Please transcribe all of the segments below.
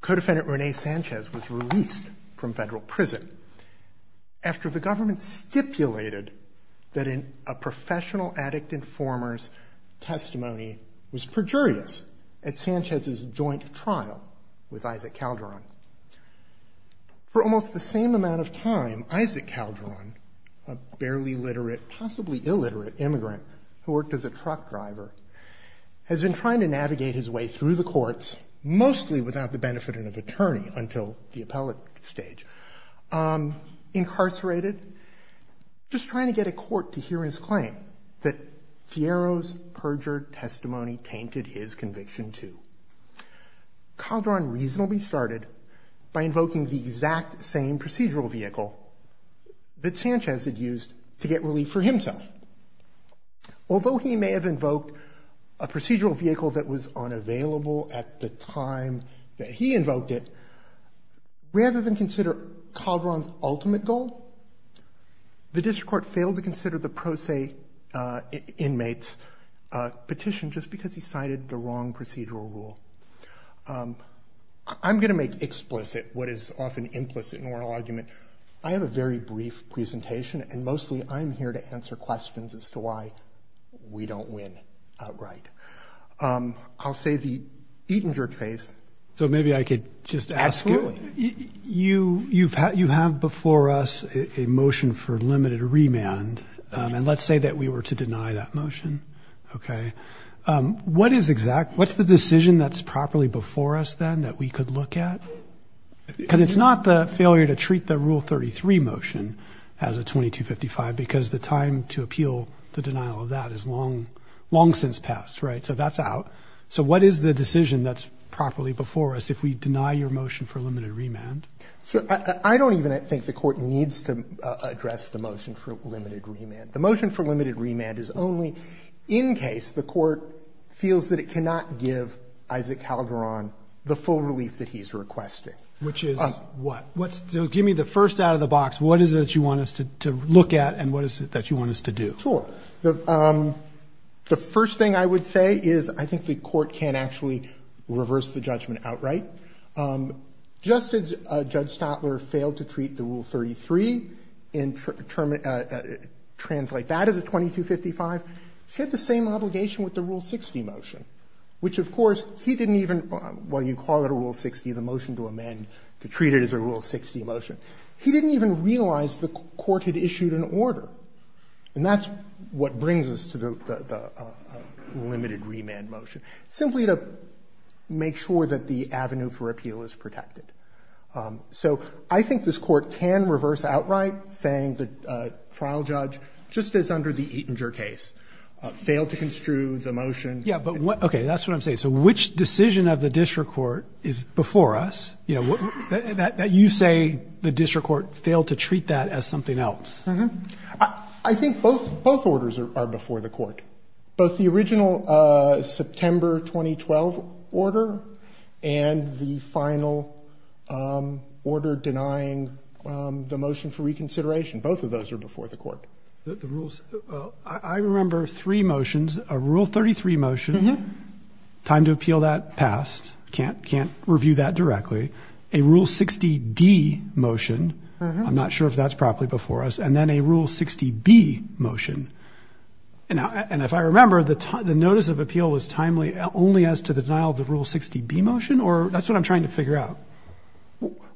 Co-Defendant Rene Sanchez was released from federal prison after the government stipulated that a professional addict informer's testimony was perjurious at Sanchez's joint trial with Isaac Calderon. For almost the same amount of time, Isaac Calderon, a barely literate, possibly illiterate immigrant who worked as a truck driver, has been trying to navigate his way through the courts, mostly without the benefit of an attorney until the appellate stage, incarcerated, just trying to get a court to hear his claim that Fierro's perjured testimony tainted his conviction too. Calderon reasonably started by invoking the exact same procedural vehicle that Sanchez had used to get relief for himself. Although he may have invoked a procedural vehicle that was unavailable at the time that he invoked it, rather than consider Calderon's ultimate goal, the district court failed to consider the pro se inmate petition just because he cited the wrong procedural rule. I'm going to make explicit what is often implicit in oral argument. I have a very brief presentation. And mostly, I'm here to answer questions as to why we don't win outright. I'll say the Eatinger case. So maybe I could just ask you, you have before us a motion for limited remand. And let's say that we were to deny that motion. What is exact? What's the decision that's properly before us then that we could look at? Because it's not the failure to treat the Rule 33 motion as a 2255, because the time to appeal the denial of that is long since past, right? So that's out. So what is the decision that's properly before us if we deny your motion for limited remand? So I don't even think the court needs to address the motion for limited remand. The motion for limited remand is only in case the court feels that it cannot give Isaac Calderon the full relief that he's requesting. Which is what? So give me the first out of the box. What is it that you want us to look at? And what is it that you want us to do? Sure. The first thing I would say is I think the court can actually reverse the judgment outright. Just as Judge Stotler failed to treat the Rule 33 and translate that as a 2255, she had the same obligation with the Rule 60 motion. Which, of course, he didn't even, while you call it a Rule 60, the motion to amend to treat it as a Rule 60 motion. He didn't even realize the court had issued an order. And that's what brings us to the limited remand motion. Simply to make sure that the avenue for appeal is protected. So I think this court can reverse outright, saying the trial judge, just as under the Eatinger case, failed to construe the motion. Yeah, but what? OK, that's what I'm saying. So which decision of the district court is before us? You say the district court failed to treat that as something else. I think both orders are before the court. Both the original September 2012 order and the final order denying the motion for reconsideration, both of those are before the court. I remember three motions. A Rule 33 motion, time to appeal that, passed. Can't review that directly. A Rule 60D motion, I'm not sure if that's properly before us. And then a Rule 60B motion. And if I remember, the notice of appeal was timely only as to the denial of the Rule 60B motion? Or that's what I'm trying to figure out.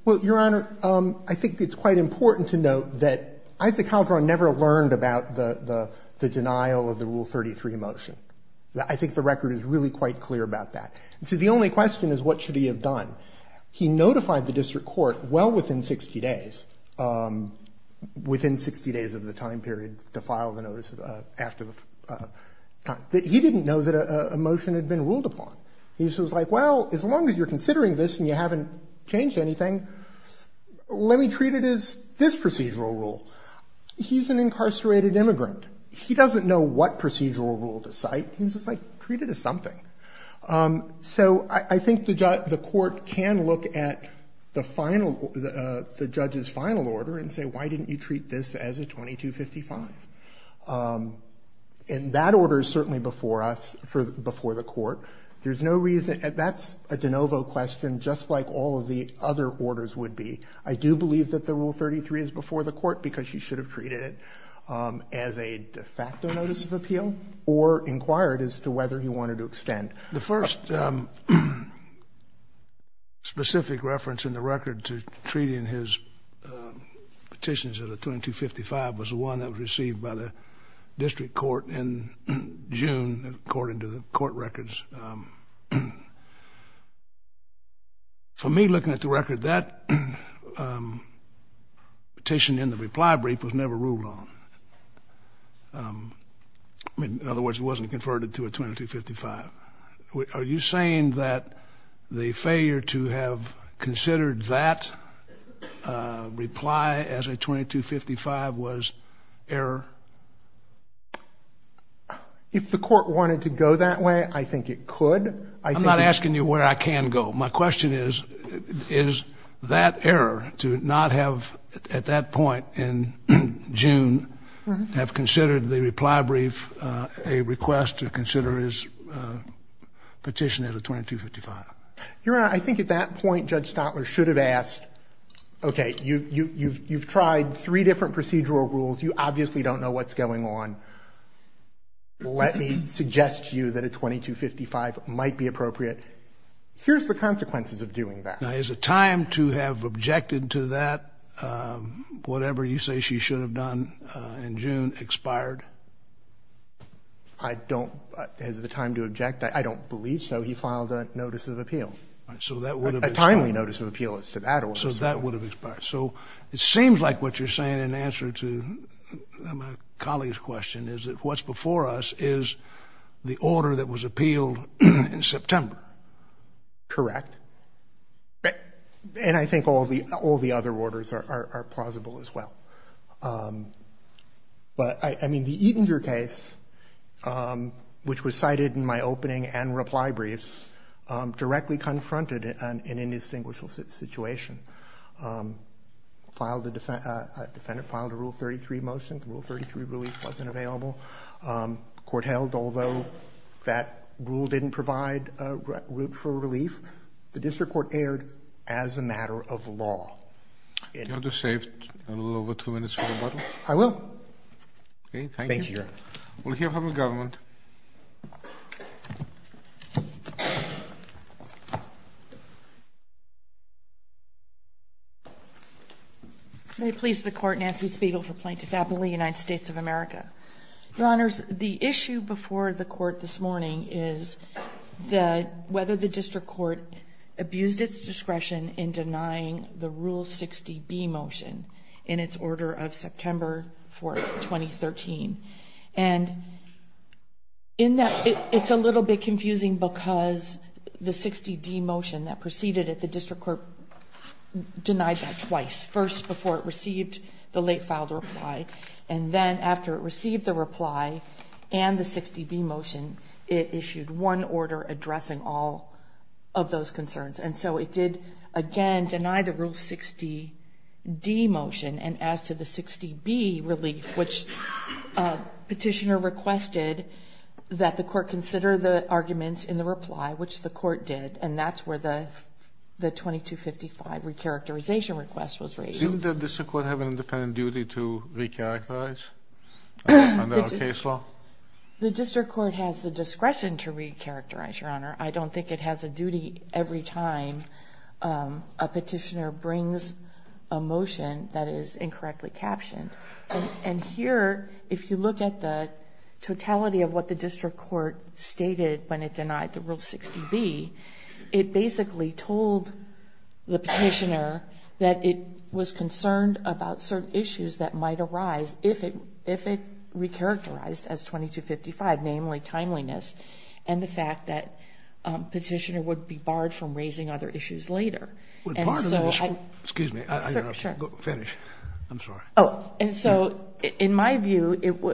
Well, Your Honor, I think it's quite important to note that Isaac Calderon never learned about the denial of the Rule 33 motion. I think the record is really quite clear about that. And so the only question is, what should he have done? He notified the district court well within 60 days, within 60 days of the time period to file the notice after the time. He didn't know that a motion had been ruled upon. He was like, well, as long as you're considering this and you haven't changed anything, let me treat it as this procedural rule. He's an incarcerated immigrant. He doesn't know what procedural rule to cite. He was just like, treat it as something. So I think the court can look at the judge's final order and say, why didn't you treat this as a 2255? And that order is certainly before us, before the court. There's no reason, that's a de novo question, just like all of the other orders would be. I do believe that the Rule 33 is before the court because he should have treated it as a de facto notice of appeal or inquired as to whether he wanted to extend. The first specific reference in the record to treating his petitions as a 2255 was the one that was received by the district court in June, according to the court records. For me, looking at the record, that petition in the reply brief was never ruled on. In other words, it wasn't converted to a 2255. Are you saying that the failure to have considered that reply as a 2255 was error? If the court wanted to go that way, I think it could. I'm not asking you where I can go. My question is, is that error, to not have, at that point in June, have considered the reply brief a request to consider his petition as a 2255? Your Honor, I think at that point, Judge Stotler should have asked, OK, you've tried three different procedural rules. You obviously don't know what's going on. Let me suggest to you that a 2255 might be appropriate. Here's the consequences of doing that. Now, is it time to have objected to that? Whatever you say she should have done in June expired? I don't. Is it the time to object? I don't believe so. He filed a notice of appeal. So that would have expired. A timely notice of appeal as to that order. So that would have expired. So it seems like what you're saying in answer to my colleague's question is that what's before us is the order that was appealed in September. Correct. And I think all the other orders are plausible as well. But I mean, the Eatinger case, which was cited in my opening and reply briefs, directly confronted an indistinguishable situation. Filed a rule 33 motion. Rule 33 really wasn't available. Court held, although that rule didn't provide a route for relief, the district court erred as a matter of law. Do you want to save a little over two minutes for the bottle? I will. OK, thank you. Thank you, Your Honor. We'll hear from the government. May it please the Court, Nancy Spiegel for Plaintiff Appellee, United States of America. Your Honors, the issue before the court this morning is whether the district court abused its discretion in denying the Rule 60B motion in its order of September 4, 2013. And in that, it's a little bit confusing because the 60D motion that proceeded it, the district court denied that twice. First, before it received the late filed reply. And then after it received the reply and the 60B motion, it issued one order addressing all of those concerns. And so it did, again, deny the Rule 60D motion. And as to the 60B relief, which a petitioner requested that the court consider the arguments in the reply, which the court did. And that's where the 2255 recharacterization request was raised. Didn't the district court have an independent duty to recharacterize under our case law? The district court has the discretion to recharacterize, Your Honor. I don't think it has a duty every time a petitioner brings a motion that is incorrectly captioned. And here, if you look at the totality of what the district court stated when it denied the Rule 60B, it basically told the petitioner that it was concerned about certain issues that might arise if it recharacterized as 2255, namely timeliness and the fact that a petitioner would be barred from raising other issues later. Would barred? Excuse me, I got a fetish. I'm sorry. And so in my view,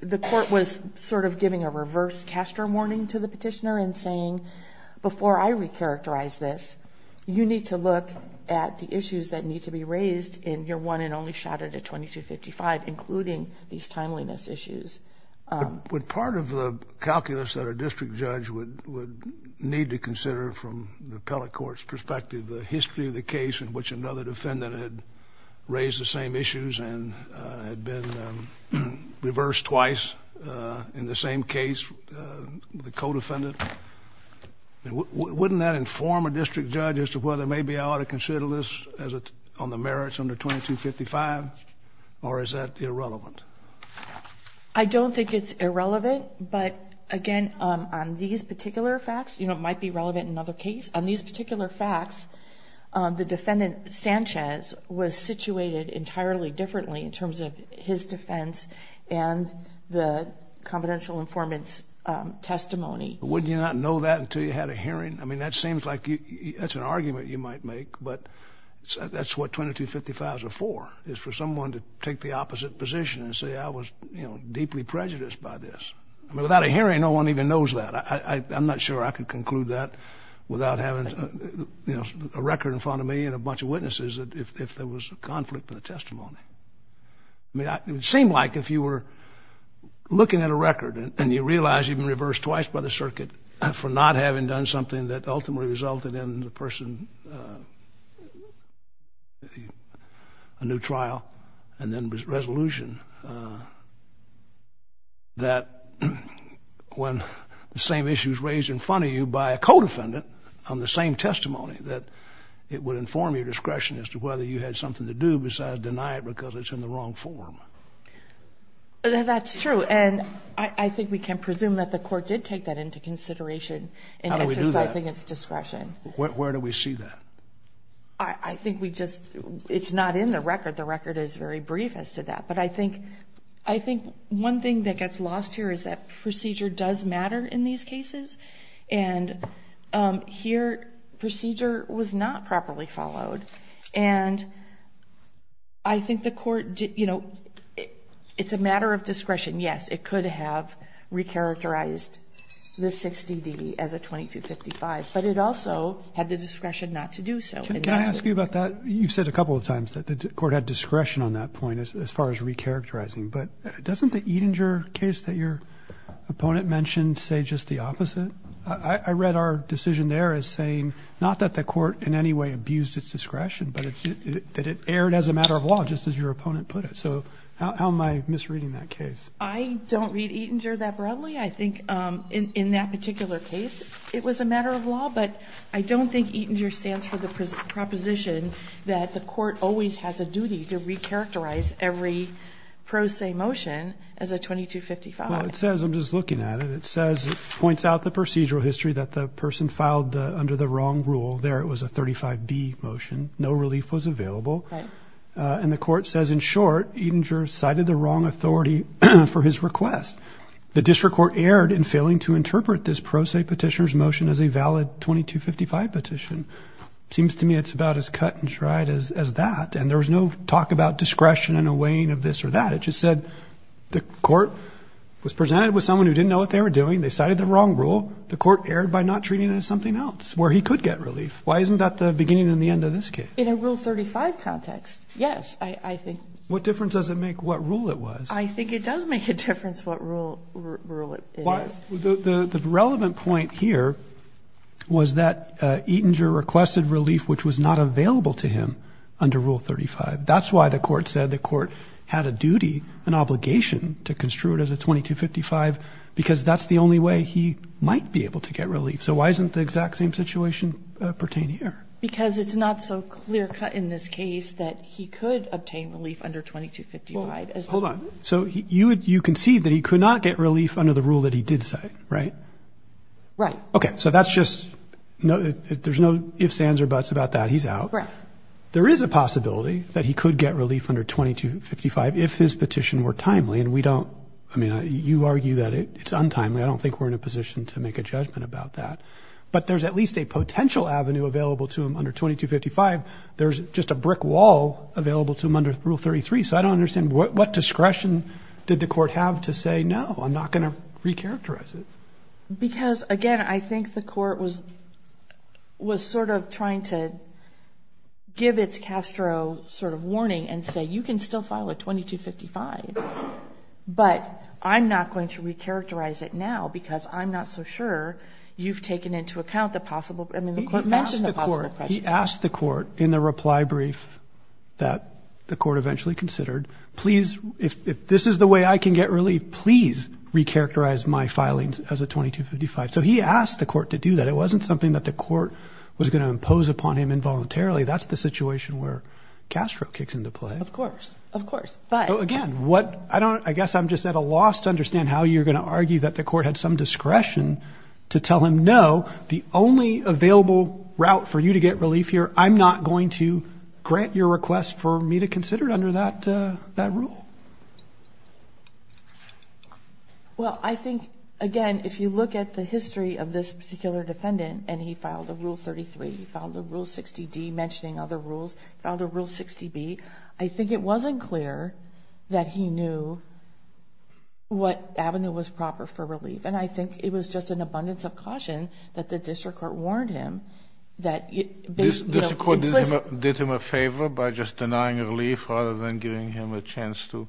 the court was sort of giving a reverse caster warning to the petitioner and saying, before I recharacterize this, you need to look at the issues that need to be raised in your one and only shot at a 2255, including these timeliness issues. Would part of the calculus that a district judge would need to consider from the appellate court's perspective the history of the case in which another defendant had raised the same issues and had been reversed twice in the same case, the co-defendant, wouldn't that inform a district judge as to whether maybe I ought to consider this on the merits under 2255, or is that irrelevant? I don't think it's irrelevant, but again, on these particular facts, it might be relevant in another case. On these particular facts, the defendant, Sanchez, was situated entirely differently in terms of his defense and the confidential informant's testimony. Wouldn't you not know that until you had a hearing? That seems like it's an argument you might make, but that's what 2255s are for, is for someone to take the opposite position and say, I was deeply prejudiced by this. Without a hearing, no one even knows that. I'm not sure I could conclude that without having a record in front of me and a bunch of witnesses if there was a conflict in the testimony. It would seem like if you were looking at a record and you realize you've been reversed twice by the circuit for not having done something that ultimately resulted in the person, a new trial, and then resolution, that when the same issue is raised in front of you by a co-defendant on the same testimony, that it would inform your discretion as to whether you had something to do besides deny it because it's in the wrong form. That's true. And I think we can presume that the court did take that into consideration in exercising its discretion. Where do we see that? I think we just, it's not in the record. The record is very brief as to that. But I think one thing that gets lost here is that procedure does matter in these cases. And here, procedure was not properly followed. And I think the court, it's a matter of discretion. Yes, it could have recharacterized the 60-D as a 2255. But it also had the discretion not to do so. Can I ask you about that? You said a couple of times that the court had discretion on that point as far as recharacterizing. But doesn't the Edinger case that your opponent mentioned say just the opposite? I read our decision there as saying, not that the court in any way abused its discretion, but that it erred as a matter of law, just as your opponent put it. So how am I misreading that case? I don't read Edinger that broadly. I think in that particular case, it was a matter of law. But I don't think Edinger stands for the proposition that the court always has a duty to recharacterize every pro se motion as a 2255. Well, it says, I'm just looking at it. It says, it points out the procedural history that the person filed under the wrong rule. There, it was a 35-D motion. No relief was available. And the court says, in short, Edinger cited the wrong authority for his request. The district court erred in failing to interpret this pro se petitioner's motion as a valid 2255 petition. Seems to me it's about as cut and dried as that. And there was no talk about discretion in a weighing of this or that. It just said, the court was presented with someone who didn't know what they were doing. They cited the wrong rule. The court erred by not treating it as something else where he could get relief. Why isn't that the beginning and the end of this case? In a Rule 35 context, yes, I think. What difference does it make what rule it was? I think it does make a difference what rule it is. The relevant point here was that Edinger requested relief, which was not available to him under Rule 35. That's why the court said the court had a duty, an obligation, to construe it as a 2255, because that's the only way he might be able to get relief. So why isn't the exact same situation pertain here? Because it's not so clear cut in this case that he could obtain relief under 2255. Hold on, so you concede that he could not get relief under the rule that he did cite, right? Right. Okay, so that's just, there's no ifs, ands, or buts about that, he's out. Correct. There is a possibility that he could get relief under 2255 if his petition were timely. And we don't, I mean, you argue that it's untimely. I don't think we're in a position to make a judgment about that. But there's at least a potential avenue available to him under 2255. There's just a brick wall available to him under Rule 33. So I don't understand, what discretion did the court have to say, no, I'm not gonna recharacterize it? Because, again, I think the court was sort of trying to give its Castro sort of warning and say, you can still file a 2255, but I'm not going to recharacterize it now because I'm not so sure you've taken into account the possible, I mean, the court mentioned the possible pressure. He asked the court in the reply brief that the court eventually considered, please, if this is the way I can get relief, please recharacterize my filings as a 2255. So he asked the court to do that. It wasn't something that the court was gonna impose upon him involuntarily. That's the situation where Castro kicks into play. Of course, of course, but. Again, I guess I'm just at a loss to understand how you're gonna argue that the court had some discretion to tell him, no, the only available route for you to get relief here, I'm not going to grant your request for me to consider it under that rule. Well, I think, again, if you look at the history of this particular defendant and he filed a Rule 33, he filed a Rule 60D, mentioning other rules, filed a Rule 60B, I think it wasn't clear that he knew what avenue was proper for relief. And I think it was just an abundance of caution that the district court warned him that, you know. The district court did him a favor by just denying relief rather than giving him a chance to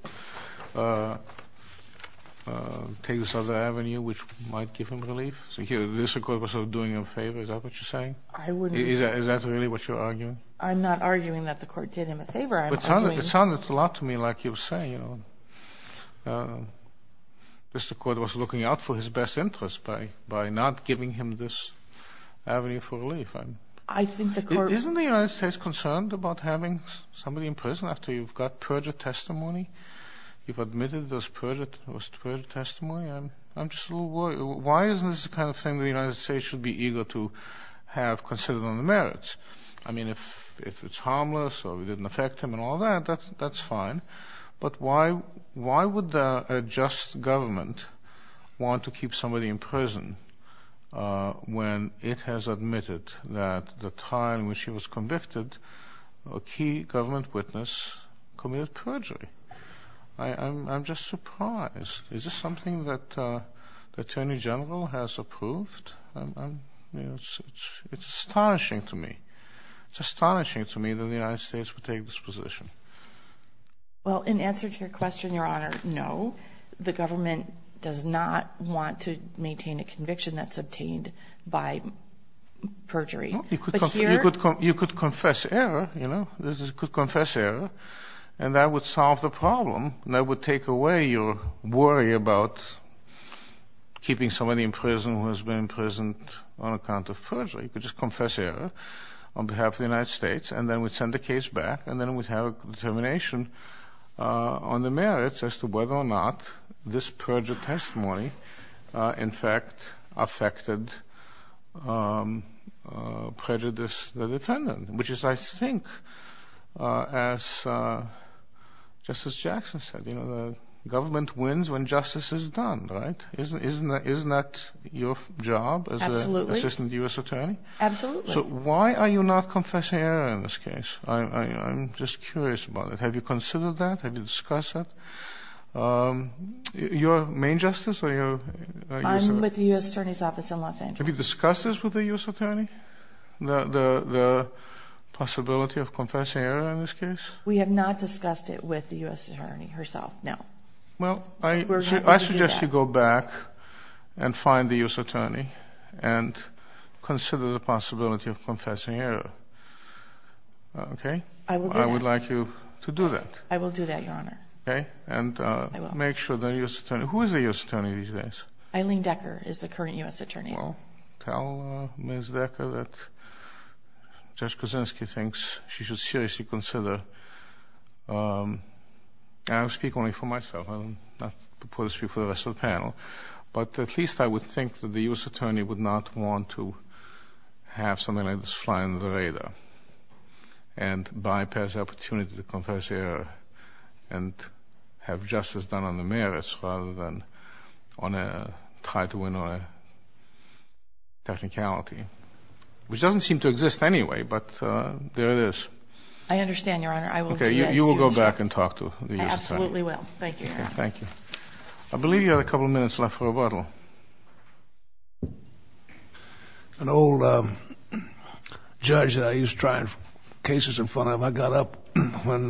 take this other avenue, which might give him relief. So here, the district court was sort of doing him a favor, is that what you're saying? I wouldn't. Is that really what you're arguing? I'm not arguing that the court did him a favor, I'm arguing. It sounded a lot to me like you're saying, you know. District court was looking out for his best interest by not giving him this avenue for relief. I think the court- Isn't the United States concerned about having somebody in prison after you've got perjured testimony? You've admitted there was perjured testimony. I'm just a little worried. Why isn't this the kind of thing the United States should be eager to have considered on the merits? I mean, if it's harmless or it didn't affect him and all that, that's fine. But why would a just government want to keep somebody in prison when it has admitted that the time when she was convicted, a key government witness committed perjury? I'm just surprised. Is this something that the Attorney General has approved? It's astonishing to me. It's astonishing to me that the United States would take this position. Well, in answer to your question, Your Honor, no. The government does not want to maintain a conviction that's obtained by perjury. But here- You could confess error, you know? This is, you could confess error and that would solve the problem. That would take away your worry about keeping somebody in prison who has been imprisoned on account of perjury. You could just confess error on behalf of the United States and then we'd send the case back and then we'd have a determination on the merits as to whether or not this perjury testimony in fact affected prejudice of the defendant. Which is, I think, as Justice Jackson said, you know, the government wins when justice is done, right? Isn't that your job as Assistant U.S. Attorney? Absolutely. So why are you not confessing error in this case? I'm just curious about it. Have you considered that? Have you discussed that? Your main justice or your- I'm with the U.S. Attorney's Office in Los Angeles. Have you discussed this with the U.S. Attorney? The possibility of confessing error in this case? We have not discussed it with the U.S. Attorney herself, no. Well, I suggest you go back and find the U.S. Attorney and consider the possibility of confessing error. Okay? I will do that. And I would like you to do that. I will do that, Your Honor. Okay? And make sure the U.S. Attorney, who is the U.S. Attorney these days? Eileen Decker is the current U.S. Attorney. Well, tell Ms. Decker that Judge Kuczynski thinks she should seriously consider, and I speak only for myself, I'm not supposed to speak for the rest of the panel, but at least I would think that the U.S. Attorney would not want to have something like this fly under the radar and bypass the opportunity to confess error and have justice done on the merits rather than try to win on a technicality, which doesn't seem to exist anyway, but there it is. I understand, Your Honor. I will do that. Okay, you will go back and talk to the U.S. Attorney. I absolutely will. Thank you, Your Honor. Thank you. I believe you have a couple of minutes left for rebuttal. An old judge that I used to try cases in front of, I got up when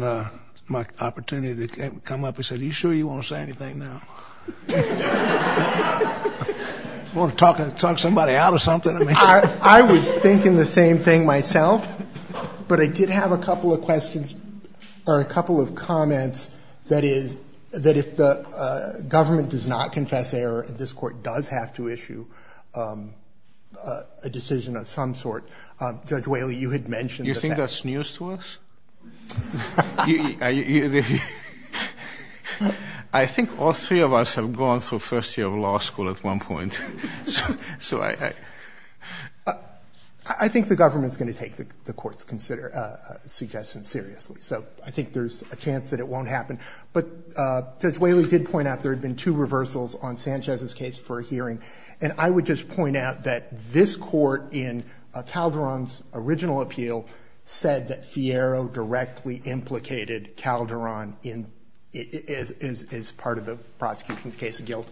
my opportunity came up, he said, are you sure you want to say anything now? I want to talk somebody out of something. I was thinking the same thing myself, but I did have a couple of questions or a couple of comments that if the government does not confess error and this court does have to issue a decision of some sort, Judge Whaley, you had mentioned that that's. You think that's news to us? I think all three of us have gone through first year of law school at one point. I think the government's going to take the court's suggestion seriously, so I think there's a chance that it won't happen. But Judge Whaley did point out that there had been two reversals on Sanchez's case for a hearing. And I would just point out that this court in Calderon's original appeal said that Fierro directly implicated Calderon as part of the prosecution's case of guilt.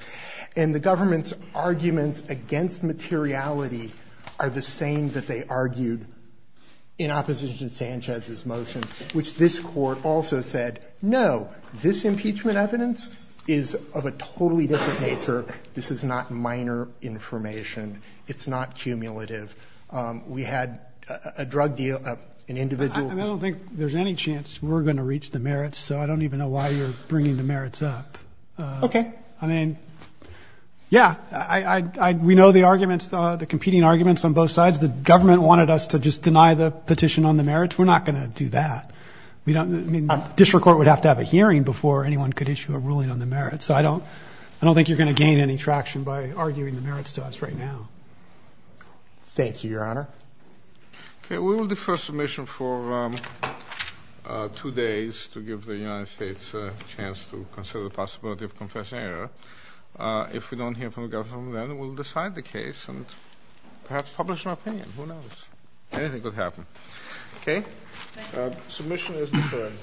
And the government's arguments against materiality are the same that they argued in opposition to Sanchez's motion, which this court also said, no, this impeachment evidence is of a totally different nature. This is not minor information. It's not cumulative. We had a drug deal, an individual. I don't think there's any chance we're going to reach the merits, so I don't even know why you're bringing the merits up. Okay. I mean, yeah, we know the arguments, the competing arguments on both sides. The government wanted us to just deny the petition on the merits. We're not going to do that. District Court would have to have a hearing before anyone could issue a ruling on the merits. So I don't think you're going to gain any traction by arguing the merits to us right now. Thank you, Your Honor. Okay, we will defer submission for two days to give the United States a chance to consider the possibility of confession error. If we don't hear from the government then, we'll decide the case and perhaps publish an opinion. Who knows? Anything could happen. Okay. Submission is deferred.